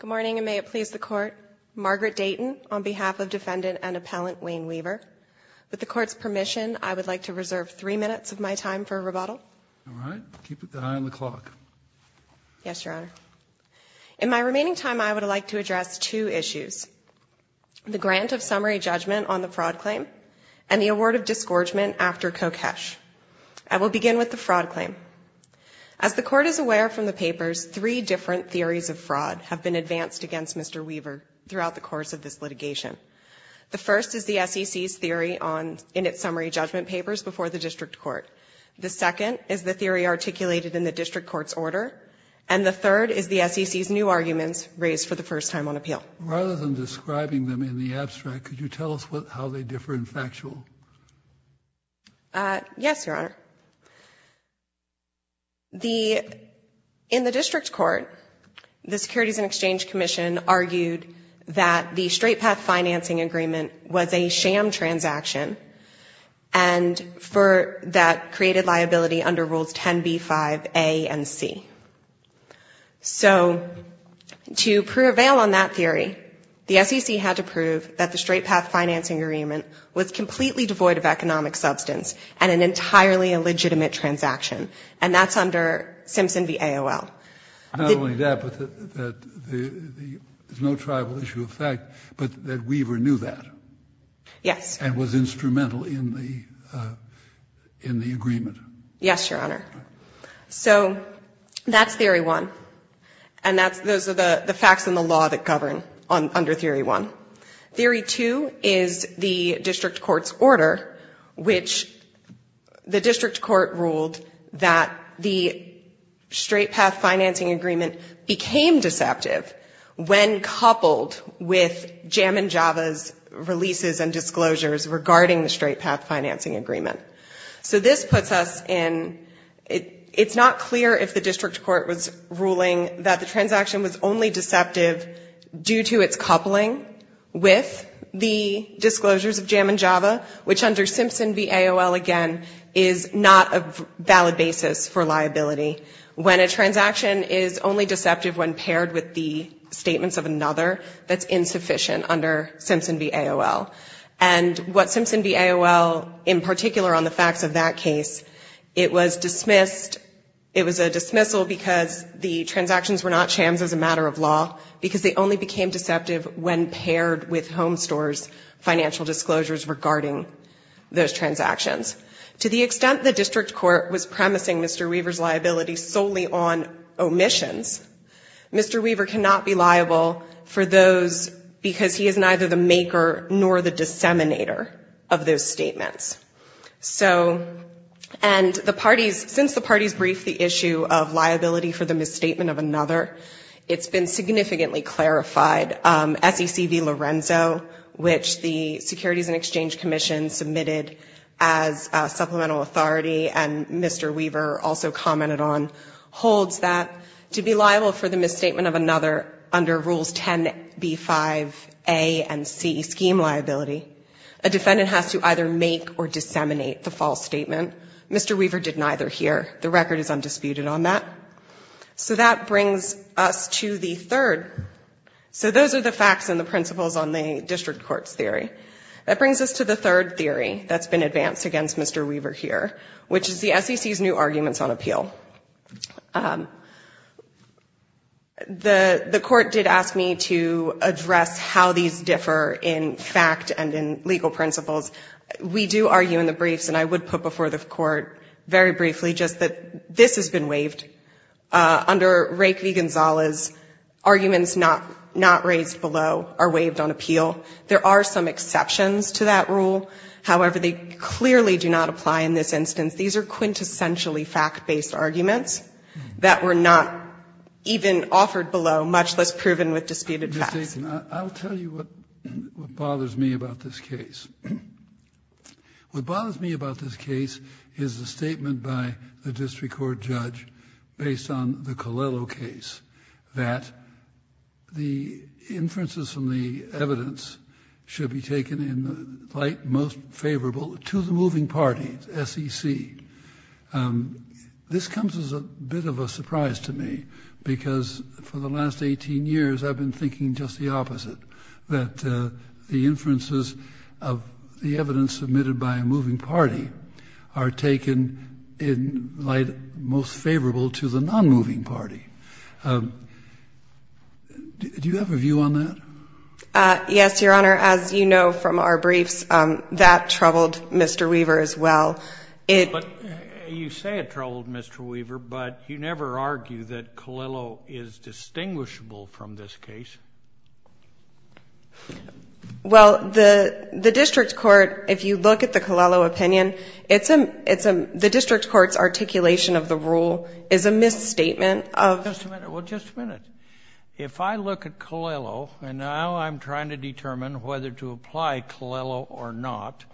Good morning, and may it please the Court, Margaret Dayton, on behalf of Defendant and Appellant Wayne Weaver. With the Court's permission, I would like to reserve three minutes of my time for rebuttal. All right. Keep an eye on the clock. Yes, Your Honor. In my remaining time, I would like to address two issues, the grant of summary judgment on the fraud claim and the award of disgorgement after Kokesh. I will begin with the fraud claim. As the Court is aware from the papers, three different theories of fraud have been advanced against Mr. Weaver throughout the course of this litigation. The first is the SEC's theory in its summary judgment papers before the District Court. The second is the theory articulated in the District Court's order. And the third is the SEC's new arguments raised for the first time on appeal. Rather than describing them in the abstract, could you tell us how they differ in factual? Yes, Your Honor. The, in the District Court, the Securities and Exchange Commission argued that the straight path financing agreement was a sham transaction and for that created liability under Rules 10b-5a and c. So, to prevail on that theory, the SEC had to prove that the straight path financing agreement was completely devoid of economic substance and an entirely illegitimate transaction. And that's under Simpson v. AOL. Not only that, but that the, there's no tribal issue of fact, but that Weaver knew that. Yes. And was instrumental in the, in the agreement. Yes, Your Honor. So, that's theory one. And that's, those are the facts in the law that govern under theory one. Theory two is the District Court's order, which the District Court ruled that the straight path financing agreement became deceptive when coupled with Jam and Java's releases and disclosures regarding the straight path financing agreement. So this puts us in, it's not clear if the District Court was ruling that the transaction was only deceptive due to its coupling with the disclosures of Jam and Java, which under Simpson v. AOL, again, is not a valid basis for liability. When a transaction is only deceptive when paired with the statements of another, that's insufficient under Simpson v. AOL. And what Simpson v. AOL, in particular on the facts of that case, it was dismissed, it was a dismissal because the transactions were not Jams as a matter of law, because they only became deceptive when paired with Home Store's financial disclosures regarding those transactions. To the extent the District Court was promising Mr. Weaver's liability solely on omissions, Mr. Weaver cannot be liable for those because he is neither the maker nor the disseminator of those statements. So, and the parties, since the parties briefed the issue of liability for the misstatement of another, it's been significantly clarified. SEC v. Lorenzo, which the Securities and Exchange Commission submitted as supplemental authority and Mr. Weaver also commented on, holds that to be liable for the misstatement of another under Rules 10b-5a and c, scheme liability, a defendant has to either make or disseminate the false statement. Mr. Weaver did neither here. The record is undisputed on that. So that brings us to the third. So those are the facts and the principles on the District Court's theory. That brings us to the third theory that's been advanced against Mr. Weaver here, which is the SEC's new arguments on appeal. The Court did ask me to address how these differ in fact and in legal principles. We do argue in the briefs and I would put before the Court very briefly just that this has been waived. Under Rake v. Gonzalez, arguments not raised below are waived on appeal. There are some exceptions to that rule. However, they clearly do not apply in this instance. These are quintessentially fact-based arguments that were not even offered below, much less proven with disputed facts. Kennedy, I'll tell you what bothers me about this case. What bothers me about this case is the statement by the District Court judge based on the Colello case, that the inferences from the evidence should be taken in the light most favorable to the moving party, SEC. This comes as a bit of a surprise to me because for the last 18 years I've been thinking just the opposite, that the inferences of the evidence submitted by a moving party are taken in light most favorable to the non-moving party. Do you have a view on that? Yes, Your Honor. As you know from our briefs, that troubled Mr. Weaver as well. You say it troubled Mr. Weaver, but you never argue that Colello is distinguishable from this case. Well, the District Court, if you look at the Colello opinion, the District Court's articulation of the rule is a misstatement of... Just a minute. Well, just a minute. If I look at Colello and now I'm trying to determine whether to apply Colello or not,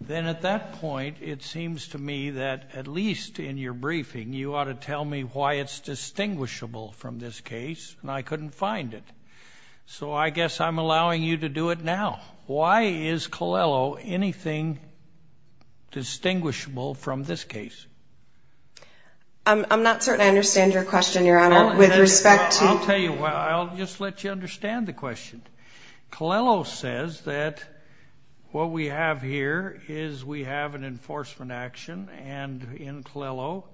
then at that point it seems to me that at least in your briefing you ought to tell me why it's distinguishable from this case, and I couldn't find it. So I guess I'm allowing you to do it now. Why is Colello anything distinguishable from this case? I'm not certain I understand your question, Your Honor, with respect to... I'll tell you what. I'll just let you understand the question. Colello says that what we have here is we have an enforcement action, and in Colello,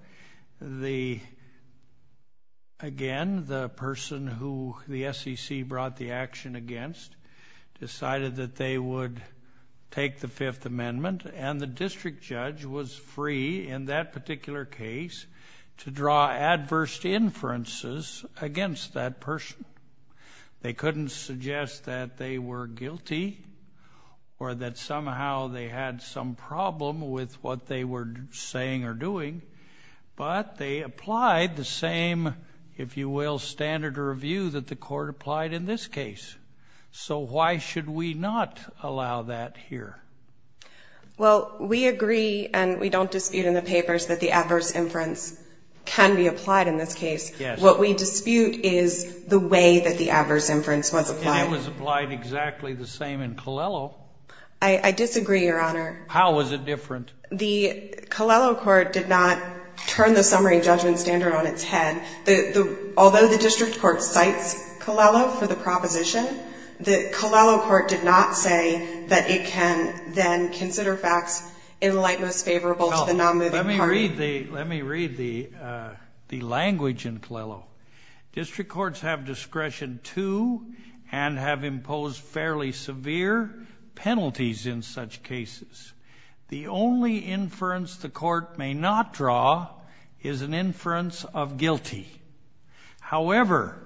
again, the person who the SEC brought the action against decided that they would take the Fifth Amendment, and the district judge was free in that particular case to draw adverse inferences against that person. They couldn't suggest that they were guilty or that somehow they had some problem with what they were saying or doing, but they applied the same, if you will, standard of review that the court applied in this case. So why should we not allow that here? Well, we agree and we don't dispute in the papers that the adverse inference can be applied in this case. What we dispute is the way that the adverse inference was applied. And it was applied exactly the same in Colello. I disagree, Your Honor. How was it different? The Colello court did not turn the summary judgment standard on its head. Although the facts in light most favorable to the non-moving party. Let me read the language in Colello. District courts have discretion to and have imposed fairly severe penalties in such cases. The only inference the court may not draw is an inference of guilty. However,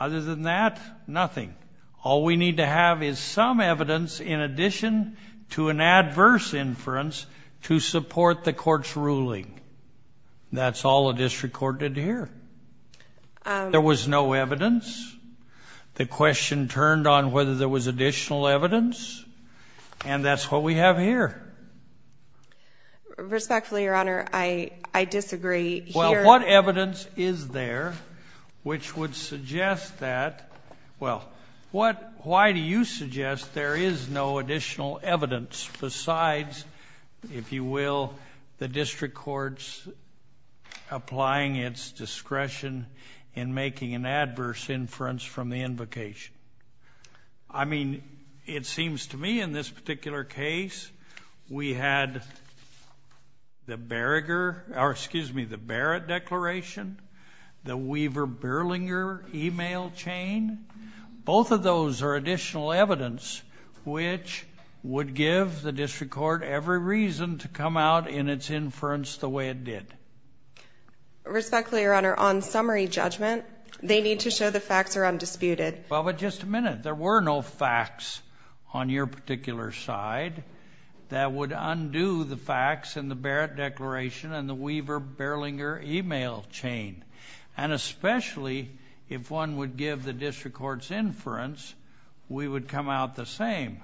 other than that, nothing. All we need to have is some evidence in addition to an adverse inference to support the court's ruling. That's all a district court did here. There was no evidence. The question turned on whether there was additional evidence. And that's what we have here. Respectfully, Your Honor, I disagree. What evidence is there which would suggest that? Well, what, why do you suggest there is no additional evidence besides, if you will, the district court's applying its discretion in making an adverse inference from the invocation? I mean, it seems to me in this particular case, we had the Berger, or excuse me, the Barrett declaration, the Weaver-Berlinger email chain. Both of those are additional evidence, which would give the district court every reason to come out in its inference the way it did. Respectfully, Your Honor, on summary judgment, they need to show the facts are undisputed. Well, but just a minute. There were no facts on your particular side that would undo the facts in the Barrett declaration and the Weaver-Berlinger email chain. And especially if one would give the district court's inference, we would come out the same.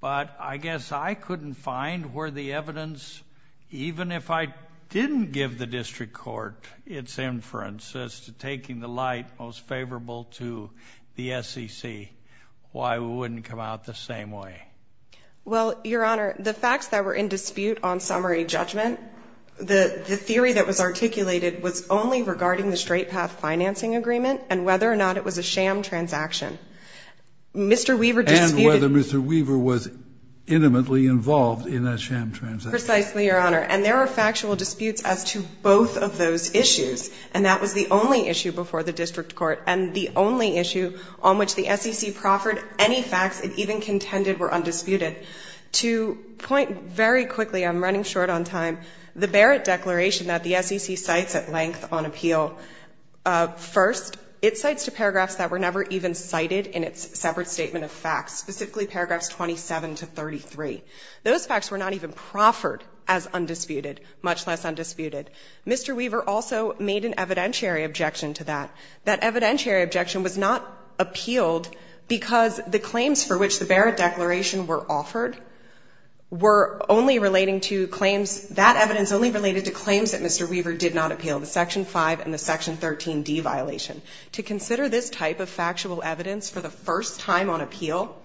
But I guess I couldn't find where the evidence, even if I didn't give the district court its inference as to taking the light most favorable to the SEC, why we wouldn't come out the same way. Well, Your Honor, the facts that were in dispute on summary judgment, the theory that was articulated was only regarding the Straight Path financing agreement and whether or not it was a sham transaction. Mr. Weaver disputed And whether Mr. Weaver was intimately involved in that sham transaction. Precisely, Your Honor. And there are factual disputes as to both of those issues. And that was the only issue before the district court and the only issue on which the SEC proffered any facts it even contended were undisputed. To point very quickly, I'm running short on time. The Barrett declaration that the SEC cites at length on appeal, first, it cites to paragraphs that were never even cited in its separate statement of facts, specifically paragraphs 27 to 33. Those facts were not even proffered as undisputed, much less undisputed. Mr. Weaver also made an evidentiary objection to that. That evidentiary objection was not appealed because the claims for which the Barrett declaration were offered were only relating to claims, that evidence only related to claims that Mr. Weaver did not appeal, the Section 5 and the Section 13d violation. To consider this type of factual evidence for the first time on appeal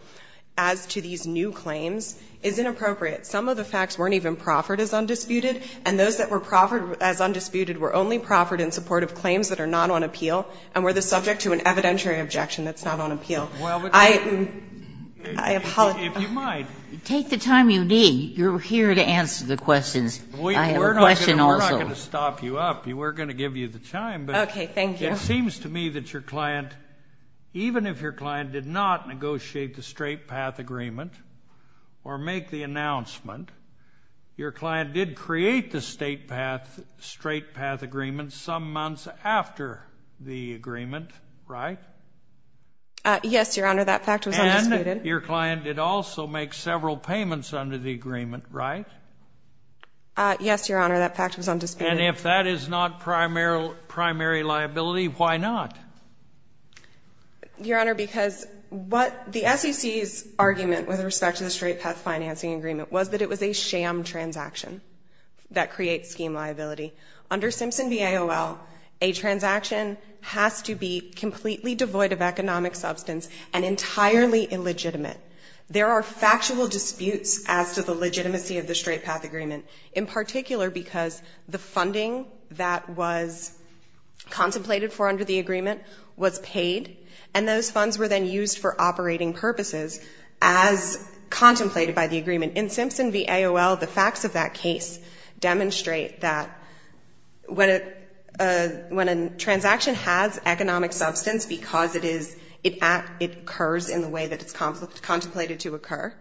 as to these new claims is inappropriate. Some of the facts weren't even proffered as undisputed, and those that were proffered as undisputed were only proffered in support of claims that are not on appeal and were the subject to an evidentiary objection that's not on appeal. I apologize. If you might. Take the time you need. You're here to answer the questions. I have a question also. We're not going to stop you up. We're going to give you the time. Okay. Thank you. It seems to me that your client, even if your client did not negotiate the straight path agreement or make the announcement, your client did create the straight path agreement some months after the agreement, right? Yes, Your Honor. That fact was undisputed. And your client did also make several payments under the agreement, right? Yes, Your Honor. That fact was undisputed. And if that is not primary liability, why not? Your Honor, because what the SEC's argument with respect to the straight path financing agreement was that it was a sham transaction that creates scheme liability. Under Simpson v. AOL, a transaction has to be completely devoid of economic substance and entirely illegitimate. There are factual disputes as to the legitimacy of the straight path agreement, in particular because the funding that was contemplated for under the agreement was paid, and those funds were then used for operating purposes as contemplated by the agreement. In Simpson v. AOL, the facts of that case demonstrate that when a transaction has economic substance because it is, it occurs in the way that it's contemplated to occur,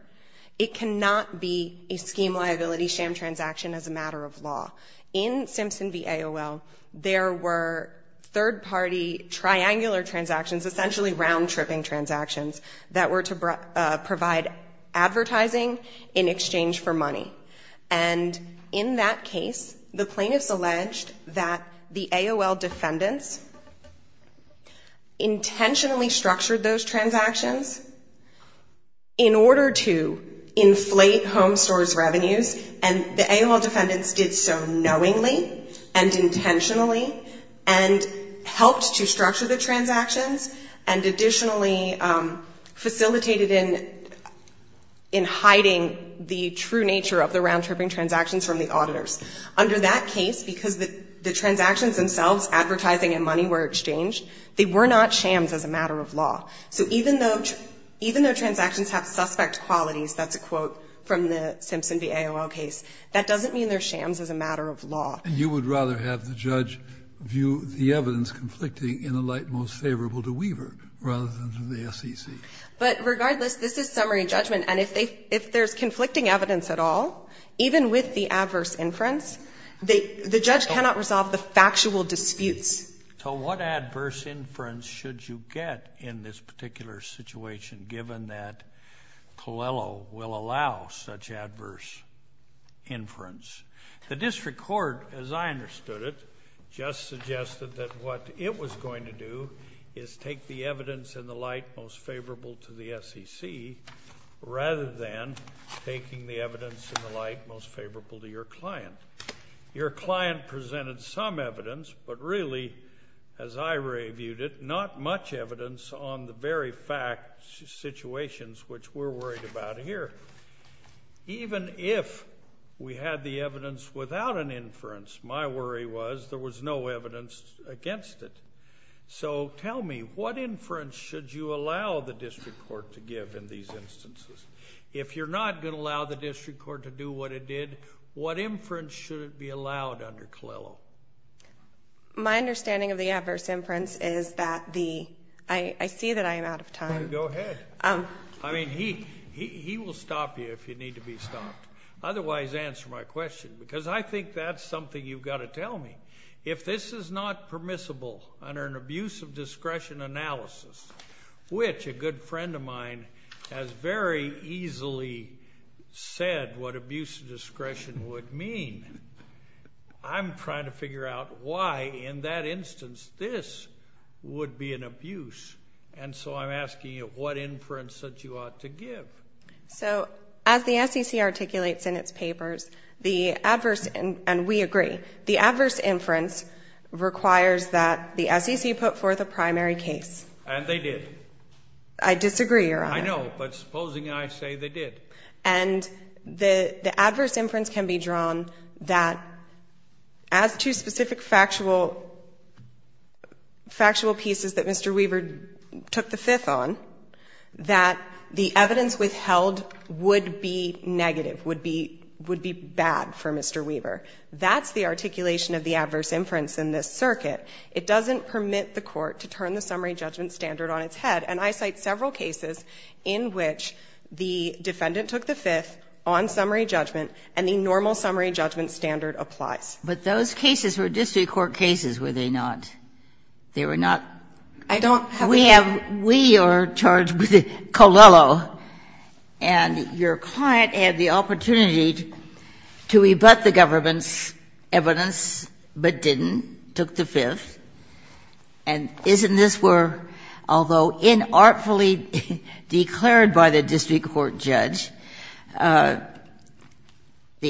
it cannot be a scheme liability sham transaction as a matter of law. In Simpson v. AOL, there were third-party triangular transactions, essentially round-tripping transactions, that were to provide advertising in exchange for money. And in that case, the plaintiffs alleged that the AOL defendants intentionally structured those transactions in order to inflate home stores' revenues, and the AOL defendants did so knowingly and intentionally, and helped to structure the transactions, and additionally facilitated in hiding the transactions through nature of the round-tripping transactions from the auditors. Under that case, because the transactions themselves, advertising and money, were exchanged, they were not shams as a matter of law. So even though, even though transactions have suspect qualities, that's a quote from the Simpson v. AOL case, that doesn't mean they're shams as a matter of law. And you would rather have the judge view the evidence conflicting in a light most favorable to Weaver rather than to the SEC? But regardless, this is summary judgment. And if they, if there's conflicting evidence at all, even with the adverse inference, they, the judge cannot resolve the factual disputes. So what adverse inference should you get in this particular situation, given that Coelho will allow such adverse inference? The district court, as I understood it, just suggested that what it was going to do is take the evidence in the light most favorable to the SEC, rather than taking the evidence in the light most favorable to your client. Your client presented some evidence, but really, as I reviewed it, not much evidence on the very fact situations which we're worried about here. Even if we had the evidence without an inference, my worry was there was no evidence against it. So tell me, what inference should you allow the district court to give in these instances? If you're not going to allow the district court to do what it did, what inference should it be allowed under Coelho? My understanding of the adverse inference is that the, I, I see that I am out of time. Go ahead. I mean, he, he, he will stop you if you need to be stopped. Otherwise, answer my question. Because I think that's something you've got to tell me. If this is not permissible under an abuse of discretion analysis, which a good friend of mine has very easily said what abuse of discretion would mean, I'm trying to figure out why, in that instance, this would be an abuse. And so I'm asking you, what inference that you ought to give? So, as the SEC articulates in its papers, the adverse, and, and we agree, the adverse inference can be drawn that as two specific factual, factual pieces that Mr. Weaver took the fifth on, that the evidence withheld would be negative, would be, would be bad for Mr. Weaver. That's the articulation of the adverse inference, and it's the articulation of the defendant's simple summary judgment standard on its head. And I cite several cases in which the defendant took the fifth on summary judgment, and the normal summary judgment standard applies. Ginsburg-Morgan But those cases were district court cases, were they not? They were not? We have, we are charged with it. Colello. And your client had the opportunity to rebut the government's evidence but didn't, took the fifth. And isn't this where although inartfully declared by the district court judge, the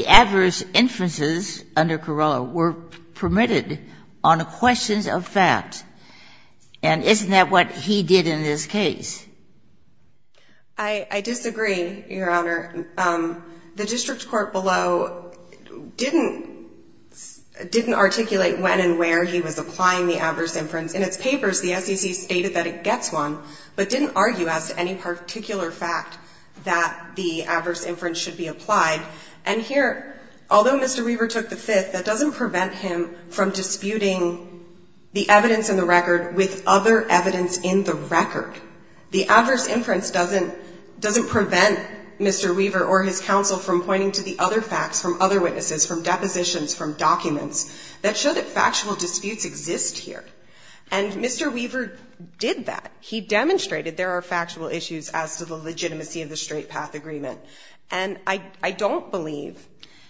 adverse inferences under Colello were permitted on questions of fact. And isn't that what he did in this case? I disagree, Your Honor. The district court below didn't articulate when and where the adverse inference should be applied. In its papers, the SEC stated that it gets one, but didn't argue as to any particular fact that the adverse inference should be applied. And here, although Mr. Weaver took the fifth, that doesn't prevent him from disputing the evidence in the record with other evidence in the record. The adverse inference doesn't prevent Mr. Weaver or his counsel from pointing to the other facts from other witnesses, from depositions, from documents that show that factual disputes exist here. And Mr. Weaver did that. He demonstrated there are factual issues as to the legitimacy of the straight path agreement. And I, I don't believe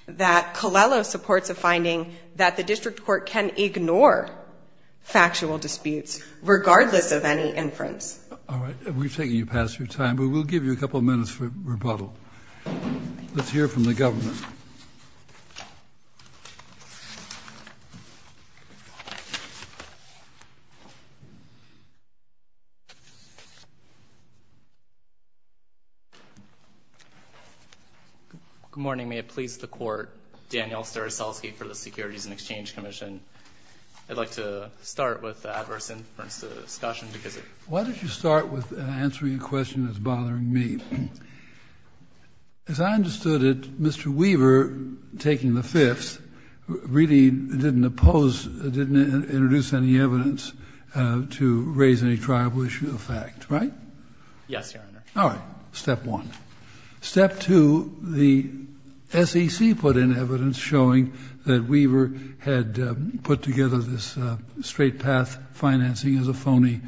that Colello supports a finding that the district court can ignore factual disputes regardless of any inference. Breyer. All right. We've taken you past your time, but we'll give you a couple minutes for rebuttal. Let's hear from the government. Good morning. May it please the court. Daniel Staroselsky for the Securities and Exchange Commission. I'd like to start with the adverse inference discussion Why don't you start with answering a question that's bothering me. As I understood it, Mr. Weaver, taking the fifth, really didn't oppose, didn't introduce any evidence to raise any triable issue of fact, right? Yes, Your Honor. All right. Step one. Step two, the SEC put in evidence showing that Weaver had put together this straight path financing as a phony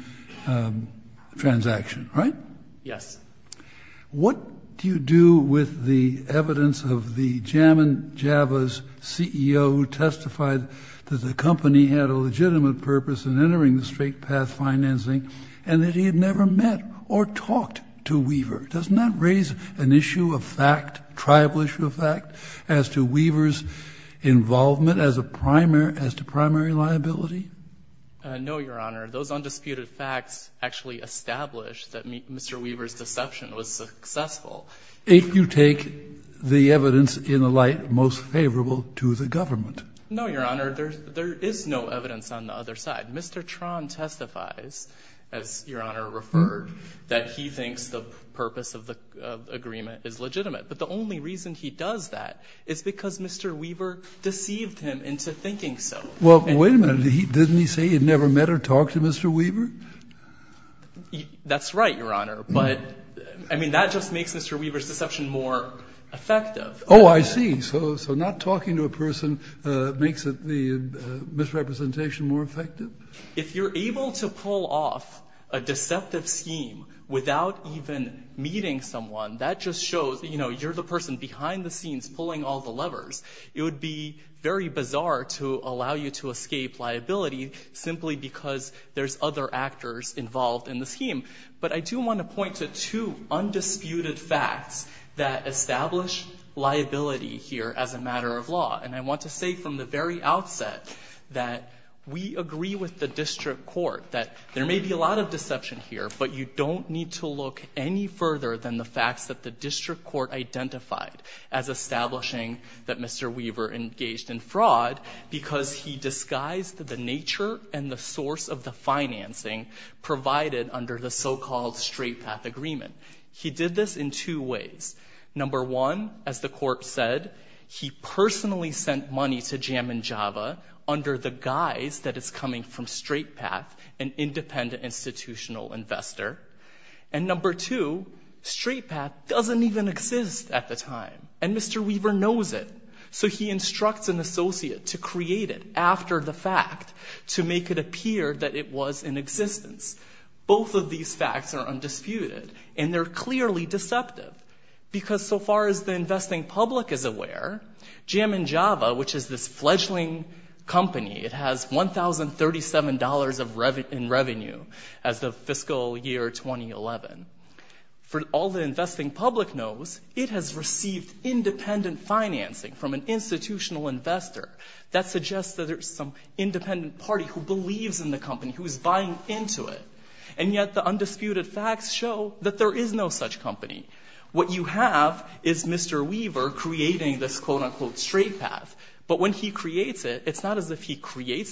transaction, right? Yes. What do you do with the evidence of the JAMA and JAVA's CEO who testified that the company had a legitimate purpose in entering the straight path financing and that he had never met or talked to Weaver? Doesn't that raise an issue of fact, triable issue of fact, as to Weaver's involvement as a primary, as to primary liability? No, Your Honor. Those undisputed facts actually established that Mr. Weaver's deception was successful. If you take the evidence in the light most favorable to the government. No, Your Honor. There is no evidence on the other side. Mr. Tron testifies, as Your Honor referred, that he thinks the purpose of the agreement is legitimate. But the only reason he does that is because Mr. Weaver deceived him into thinking so. Well, wait a minute. Didn't he say he had never met or talked to Mr. Weaver? That's right, Your Honor. But, I mean, that just makes Mr. Weaver's deception more effective. Oh, I see. So not talking to a person makes the misrepresentation more effective? If you're able to pull off a deceptive scheme without even meeting someone, that just shows, you know, you're the person behind the scenes pulling all the levers. It would be very bizarre to allow you to escape liability simply because there's other actors involved in the scheme. But I do want to point to two undisputed facts that establish liability here as a matter of law. And I want to say from the very outset that we agree with the district court that there may be a lot of deception here, but you don't need to look any further than the facts that the district court identified as establishing that Mr. Weaver engaged in fraud because he disguised the nature and the source of the financing provided under the so-called Straight Path Agreement. He did this in two ways. Number one, as the court said, he personally sent money to Jam & Java under the guise that it's coming from Straight Path, an independent institutional investor. And number two, Straight Path doesn't even exist at the time, and Mr. Weaver knows it. So he instructs an associate to create it after the fact to make it appear that it was in existence. Both of these facts are undisputed, and they're clearly deceptive because so far as the investing public is aware, Jam & Java, which is this fledgling company, it has $1,037 in revenue as of fiscal year 2011. For all the investing public knows, it has received independent financing from an institutional investor. That suggests that there's some independent party who believes in the company, who is buying into it. And yet the undisputed facts show that there is no such company. What you have is Mr. Weaver creating this quote-unquote Straight Path, but when he creates it, it's not as if he would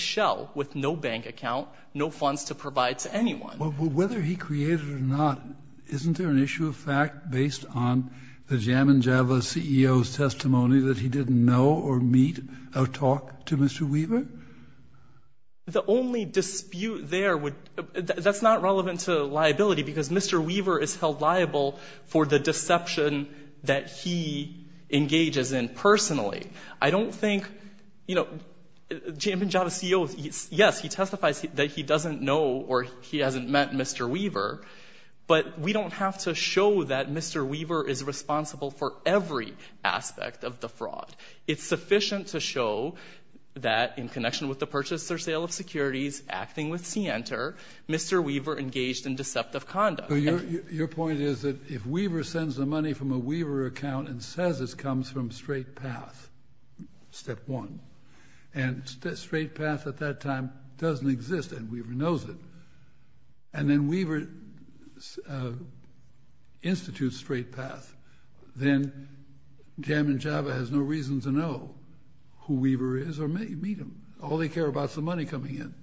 sell with no bank account, no funds to provide to anyone. Well, whether he created it or not, isn't there an issue of fact based on the Jam & Java CEO's testimony that he didn't know or meet or talk to Mr. Weaver? The only dispute there would, that's not relevant to liability because Mr. Weaver is held liable for the deception that he engages in personally. I don't think, you know, the Jam & Java CEO, yes, he testifies that he doesn't know or he hasn't met Mr. Weaver, but we don't have to show that Mr. Weaver is responsible for every aspect of the fraud. It's sufficient to show that in connection with the purchase or sale of securities acting with Center, Mr. Weaver engaged in deceptive conduct. Your point is that if Weaver sends the money from a Weaver account and says it comes from Straight Path, step one, and Straight Path at that time doesn't exist and Weaver knows it, and then Weaver institutes Straight Path, then Jam & Java has no reason to know who Weaver is or meet him. All they care about is the money coming in.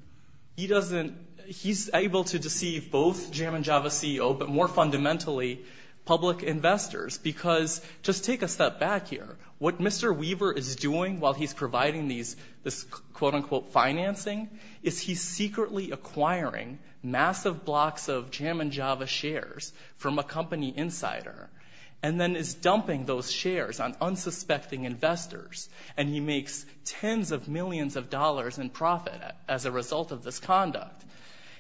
He doesn't, he's able to deceive both Jam & Java CEO, but more fundamentally public investors because, just take a step back here, what Mr. Weaver is doing while he's providing this quote-unquote financing is he's secretly acquiring massive blocks of Jam & Java shares from a company insider and then is dumping those shares on unsuspecting investors and he makes tens of millions of dollars in profit as a result of this conduct.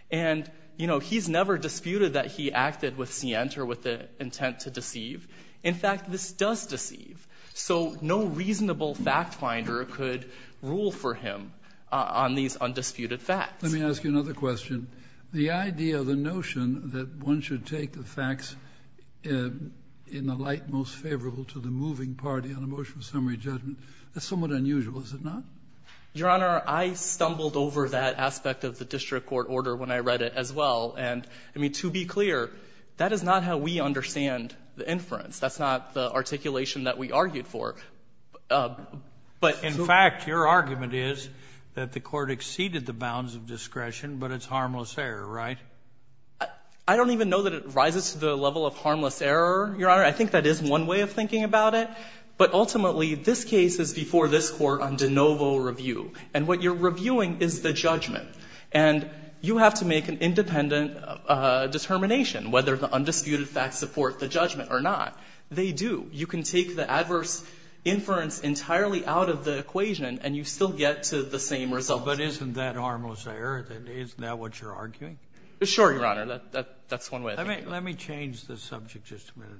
And, you know, he's never disputed that he acted with Center with the intent to deceive. In fact, this does deceive. So no reasonable fact finder could rule for him on these undisputed facts. Let me ask you another question. The idea, the notion that one should take the facts in the light most favorable to the moving party on a motion of summary judgment, that's somewhat unusual, is it not? Your Honor, I stumbled over that aspect of the district court order when I read it as well. And, I mean, to be clear, that is not how we understand the inference. That's not the articulation that we argued for. In fact, your argument is that the court exceeded the bounds of discretion, but it's harmless error, right? I don't even know that it rises to the level of harmless error, Your Honor. I think that is one way of thinking about it. But ultimately, this case is before this court on de novo review. And what you're reviewing is the judgment. And you have to make an independent determination whether the undisputed facts support the judgment or not. They do. You can take the adverse inference entirely out of the equation, and you still get to the same result. But isn't that harmless error? Isn't that what you're arguing? Sure, Your Honor. That's one way of thinking about it. Let me change the subject just a minute.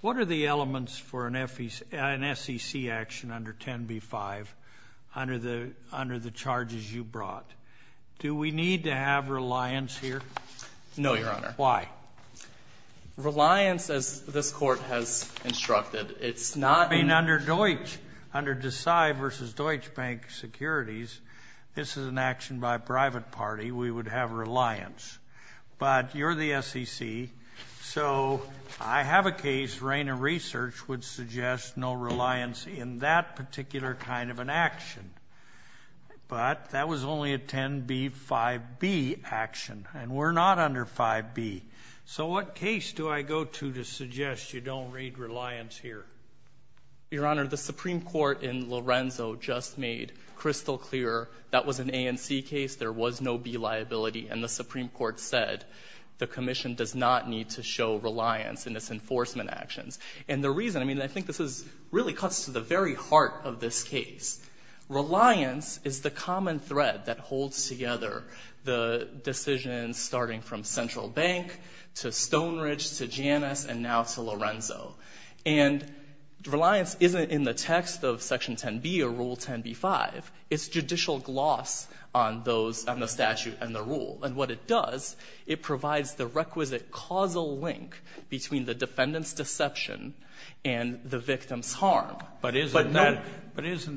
What are the elements for an SEC action under 10b-5 under the charges you brought? Do we need to have reliance here? No, Your Honor. Why? Reliance, as this court has instructed, it's not... I mean, under Deutsch, under Deci versus Deutsche Bank Securities, this is an action by a private party. We would have reliance. But you're the SEC, so I have a case. Reina Research would suggest no reliance in that particular kind of an action. But that was only a 10b-5b action, and we're not under 5b. So what case do I go to to suggest you don't read reliance here? Your Honor, the Supreme Court in Lorenzo just made crystal clear that was an A and C case. There was no B liability. And the Supreme Court said the Commission does not need to show reliance in its enforcement actions. And the reason, I mean, I think this really cuts to the very heart of this case. Reliance is the common thread that holds together the decisions starting from Central Bank to Stone Ridge to Janus and now to Lorenzo. And reliance isn't in the text of Section 10b or Rule 10b-5. It's judicial gloss on those, on the statute and the rule. And what it does, it provides the requisite causal link between the defendant's deception and the victim's harm. But isn't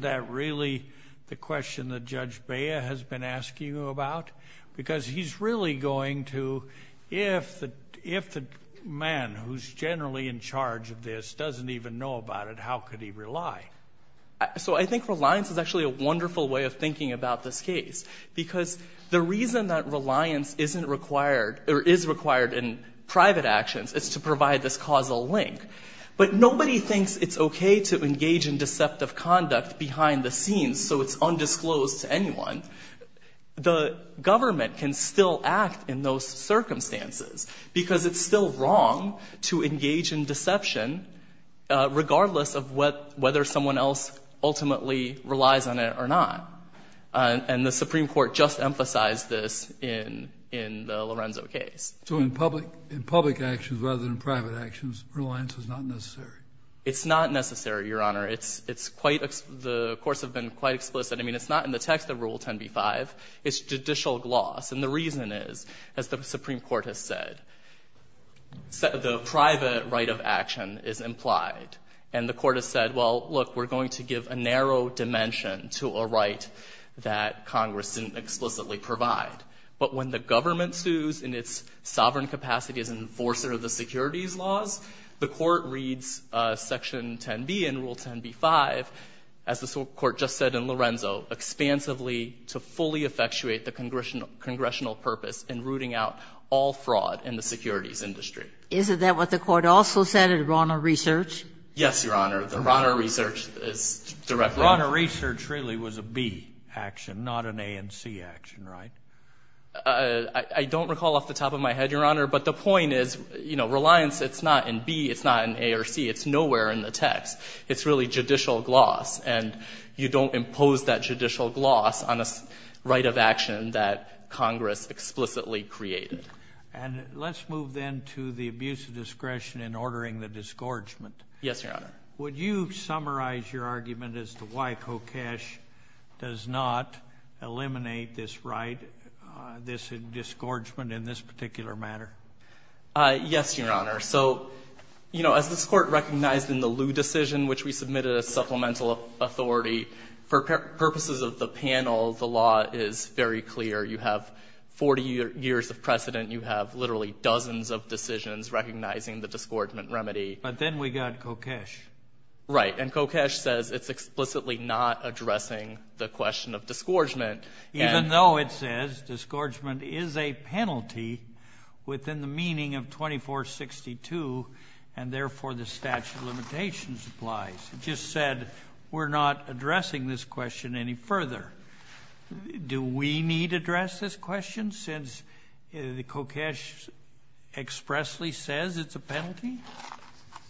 that really the question that Judge Bea has been asking you about? Because he's really going to, if the man who's generally in charge of this doesn't even know about it, how could he rely? So I think reliance is actually a wonderful way of thinking about this case. Because the reason that reliance isn't required or is required in private actions is to provide this causal link. But nobody thinks it's okay to engage in deceptive conduct behind the scenes so it's undisclosed to anyone. The government can still act in those circumstances because it's still wrong to engage in deception regardless of whether someone else ultimately relies on it or not. And the Supreme Court just emphasized this in the Lorenzo case. So in public actions rather than private actions, reliance is not necessary? It's not necessary, Your Honor. It's quite, the courts have been quite explicit. I mean, it's not in the text of Rule 10b-5. It's judicial gloss. And the reason is, as the Supreme Court has said, the private right of action is implied. And the Court has said, well, look, we're going to give a narrow dimension to a right that Congress didn't explicitly provide. But when the government sues in its sovereign capacity as enforcer of the securities laws, the Court reads Section 10b in Rule 10b-5, as the Supreme Court just said in Lorenzo, expansively to fully effectuate the congressional purpose in rooting out all fraud in the securities industry. Isn't that what the Court also said in Rauner Research? Yes, Your Honor. The Rauner Research is directly. Rauner Research really was a B action, not an A and C action, right? I don't recall off the top of my head, Your Honor, but the point is, you know, Reliance, it's not in B, it's not in A or C, it's nowhere in the text. It's really judicial gloss, and you don't impose that judicial gloss on a right of action that Congress explicitly created. And let's move then to the abuse of discretion Yes, Your Honor. Would you summarize your argument as to why Kokesh does not eliminate this right, this disgorgement in this particular matter? Yes, Your Honor. So, you know, as this Court recognized in the Liu decision, which we submitted as supplemental authority, for purposes of the panel, the law is very clear. You have 40 years of precedent, you have literally dozens of decisions recognizing the disgorgement remedy. But then we got Kokesh. Right, and Kokesh says it's explicitly not addressing the question of disgorgement. Even though it says disgorgement is a penalty within the meaning of 2462, and therefore the statute of limitations applies. It just said we're not addressing this question any further. Do we need to address this question since Kokesh expressly says it's a penalty?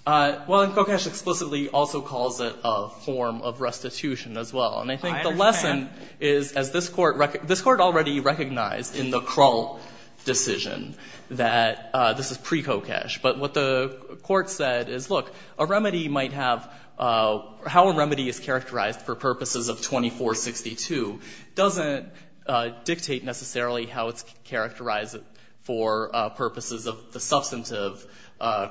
Well, and Kokesh explicitly also calls it a form of restitution as well. I understand. And I think the lesson is, as this Court already recognized in the Krull decision that this is pre-Kokesh. But what the Court said is, look, a remedy might have, how a remedy is characterized for purposes of 2462 doesn't dictate necessarily how it's characterized for purposes of the substantive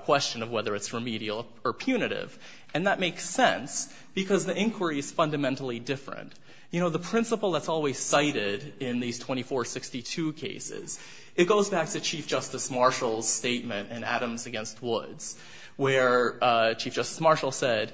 question of whether it's remedial or punitive. And that makes sense because the inquiry is fundamentally different. You know, the principle that's always cited in these 2462 cases, it goes back to Chief Justice Marshall's statement in Adams against Woods, where Chief Justice Marshall said,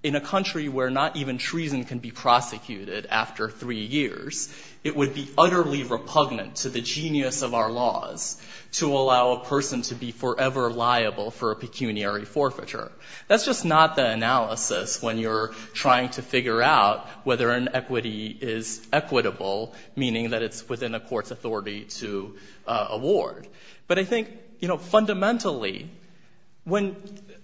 in a country where not even treason can be prosecuted after three years, it would be utterly repugnant to the genius of our laws to allow a person to be forever liable for a pecuniary forfeiture. That's just not the analysis when you're trying to figure out whether an equity is equitable, meaning that it's within a court's authority to award. But I think, you know, fundamentally, when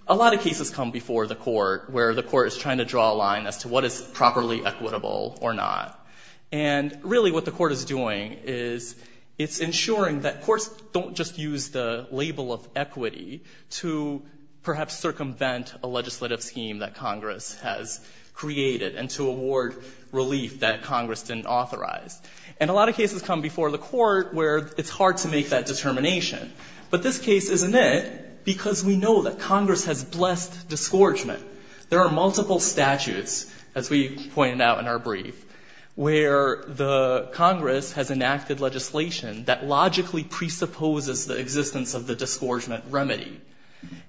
a lot of cases come before the court where the court is trying to draw a line as to what is properly equitable or not, and really what the court is doing is it's ensuring that courts don't just use the label of equity to perhaps circumvent a legislative scheme that Congress has created and to award relief that Congress didn't authorize. And a lot of cases come before the court where it's hard to make that determination. But this case isn't it because we know that Congress has blessed disgorgement. There are multiple statutes, as we pointed out in our brief, where the Congress has enacted legislation that logically presupposes the existence of the disgorgement remedy.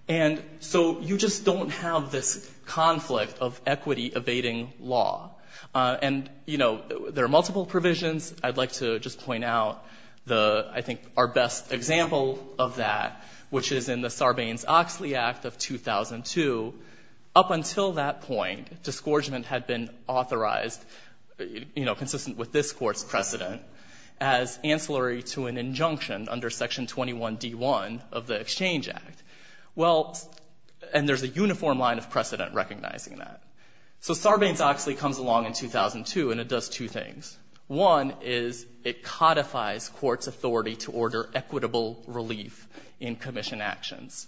And so you just don't have this conflict of equity evading law. And, you know, there are multiple provisions. I'd like to just point out the, I think, our best example of that, which is in the Sarbanes-Oxley Act of 2002. Up until that point, disgorgement had been authorized, you know, consistent with this court's precedent, as ancillary to an injunction under Section 21d-1 of the Exchange Act. Well, and there's a uniform line of precedent recognizing that. So Sarbanes-Oxley comes along in 2002, and it does two things. One is it codifies courts' authority to order equitable relief in commission actions.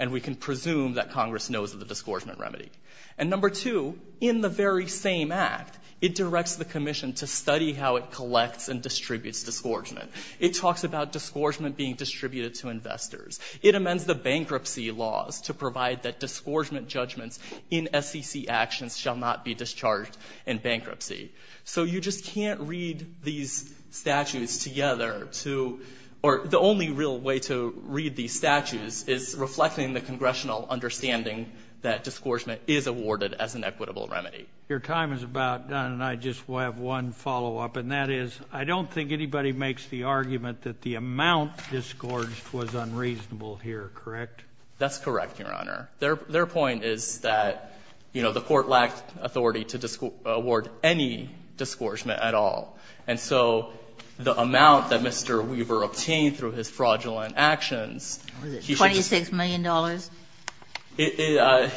And we can presume that Congress knows of the disgorgement remedy. And number two, in the very same act, it directs the commission to study how it collects and distributes disgorgement. It talks about disgorgement being distributed to investors. It amends the bankruptcy laws to provide that disgorgement judgments in SEC actions shall not be discharged in bankruptcy. So you just can't read these statutes together to... Or the only real way to read these statutes is reflecting the congressional understanding that disgorgement is awarded as an equitable remedy. Your time is about done, and I just have one follow-up, and that is I don't think anybody makes the argument that the amount disgorged was unreasonable here, correct? That's correct, Your Honor. Their point is that, you know, the court lacked authority to award any disgorgement at all. And so the amount that Mr. Weaver obtained through his fraudulent actions... Was it $26 million?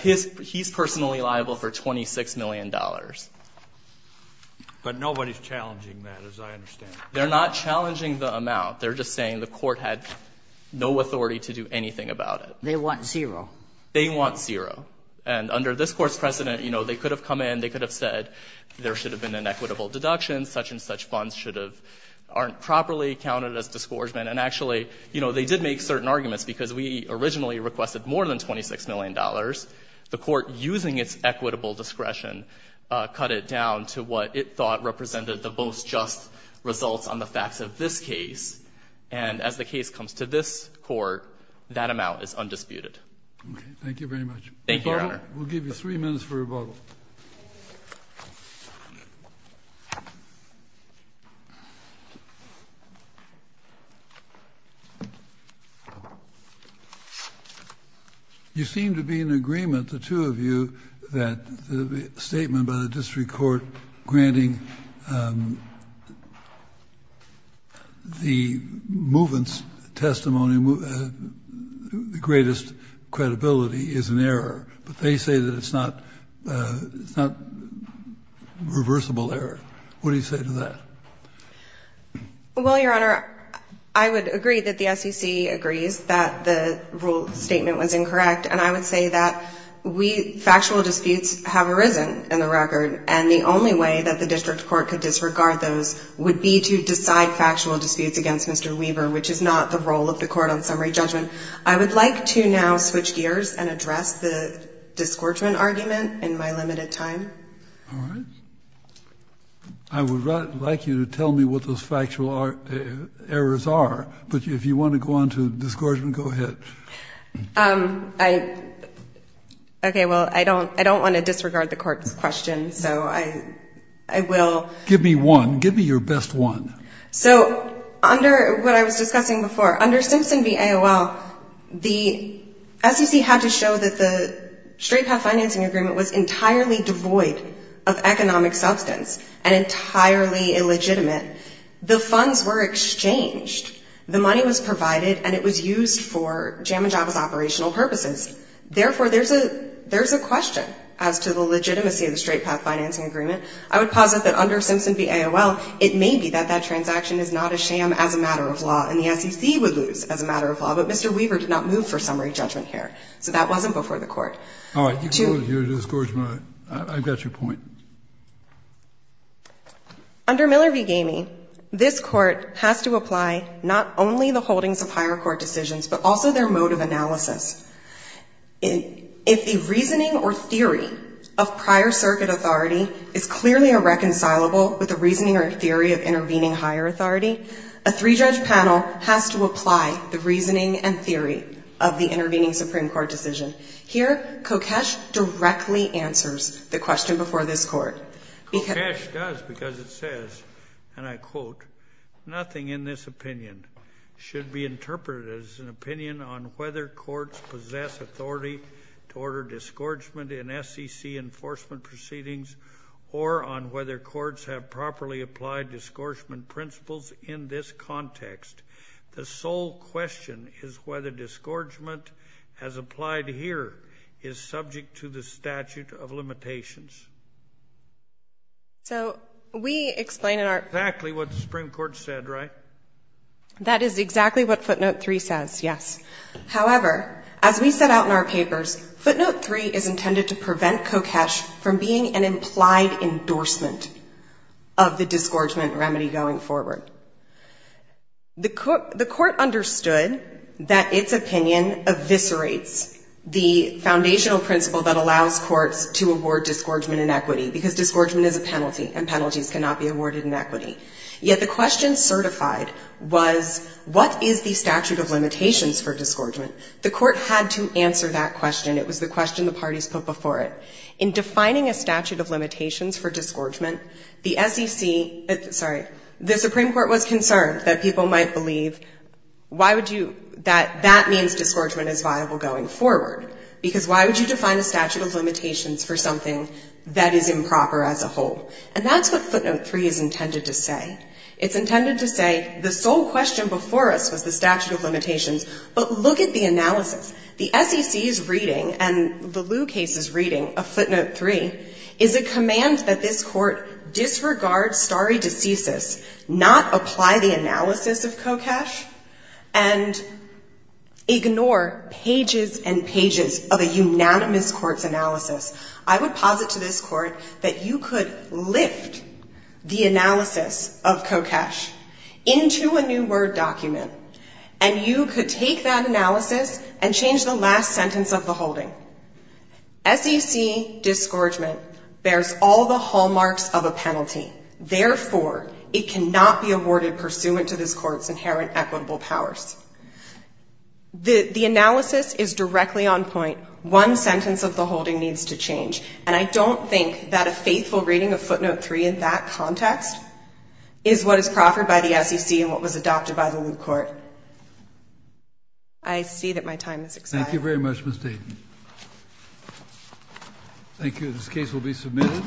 He's personally liable for $26 million. But nobody's challenging that, as I understand. They're not challenging the amount. They're just saying the court had no authority to do anything about it. They want zero. They want zero. And under this Court's precedent, you know, they could have come in, they could have said there should have been an equitable deduction, such and such funds aren't properly counted as disgorgement. And actually, you know, they did make certain arguments because we originally requested more than $26 million. The court, using its equitable discretion, cut it down to what it thought represented the most just results on the facts of this case. And as the case comes to this Court, that amount is undisputed. Okay, thank you very much. Thank you, Your Honor. We'll give you three minutes for rebuttal. You seem to be in agreement, the two of you, that the statement by the district court granting, um... the movement's testimony, the greatest credibility, is an error. But they say that it's not, it's not a reversible error. What do you say to that? Well, Your Honor, I would agree that the SEC agrees that the rule statement was incorrect. And I would say that we, factual disputes have arisen in the record. And the only way that the district court could disregard those would be to decide factual disputes against Mr. Weber, which is not the role of the court on summary judgment. I would like to now switch gears and address the disgorgement argument in my limited time. All right. I would like you to tell me what those factual errors are. But if you want to go on to the disgorgement, go ahead. Um, I... Okay, well, I don't, I don't want to disregard the court's question, so I, I will. Give me one. Give me your best one. So, under what I was discussing before, under Simpson v. AOL, the SEC had to show that the straight path financing agreement was entirely devoid of economic substance and entirely illegitimate. The funds were exchanged. The money was provided and it was used for JAMA JAVA's operational purposes. Therefore, there's a, there's a question as to the legitimacy of the straight path financing agreement. I would posit that under Simpson v. AOL, it may be that that transaction is not a sham as a matter of law and the SEC would lose as a matter of law, but Mr. Weber did not move for summary judgment here, so that wasn't before the court. All right. You can go to your disgorgement. I, I got your point. Under Miller v. Gamey, this court has to apply not only the holdings of higher court decisions, but also their mode of analysis. If the reasoning or theory of prior circuit authority is clearly irreconcilable with the reasoning or theory of intervening higher authority, a three-judge panel has to apply the reasoning and theory of the intervening Supreme Court decision. Here, Kokesh directly answers the question before this court. Kokesh does because it says, and I quote, nothing in this opinion should be interpreted as an opinion on whether courts possess authority to order disgorgement in SEC enforcement proceedings or on whether courts have properly applied disgorgement principles in this context. The sole question is whether disgorgement as applied here is subject to the statute of limitations. So we explain in our... Exactly what the Supreme Court said, right? That is exactly what footnote 3 says, yes. However, as we set out in our papers, footnote 3 is intended to prevent Kokesh from being an implied endorsement of the disgorgement remedy going forward. The court understood that its opinion eviscerates the foundational principle that allows courts to award disgorgement in equity because disgorgement is a penalty and penalties cannot be awarded in equity. Yet the question certified was what is the statute of limitations for disgorgement? The court had to answer that question. It was the question the parties put before it. In defining a statute of limitations for disgorgement, the SEC... Sorry. The Supreme Court was concerned that people might believe why would you... That that means disgorgement is viable going forward because why would you define a statute of limitations for something that is improper as a whole? And that's what footnote 3 is intended to say. It's intended to say the sole question before us was the statute of limitations but look at the analysis. The SEC's reading and the Liu case's reading of footnote 3 is a command that this court disregard stare decisis, not apply the analysis of Kokesh and ignore pages and pages of a unanimous court's analysis. I would posit to this court that you could lift the analysis of Kokesh into a new word document and you could take that analysis and change the last sentence of the holding. SEC disgorgement bears all the hallmarks of a penalty. Therefore, it cannot be awarded pursuant to this court's inherent equitable powers. The analysis is directly on point. One sentence of the holding needs to change and I don't think that a faithful reading of footnote 3 in that context is what is proffered by the SEC and what was adopted by the Liu court. I see that my time has expired. Thank you very much Ms. Dayton. Thank you. This case will be submitted.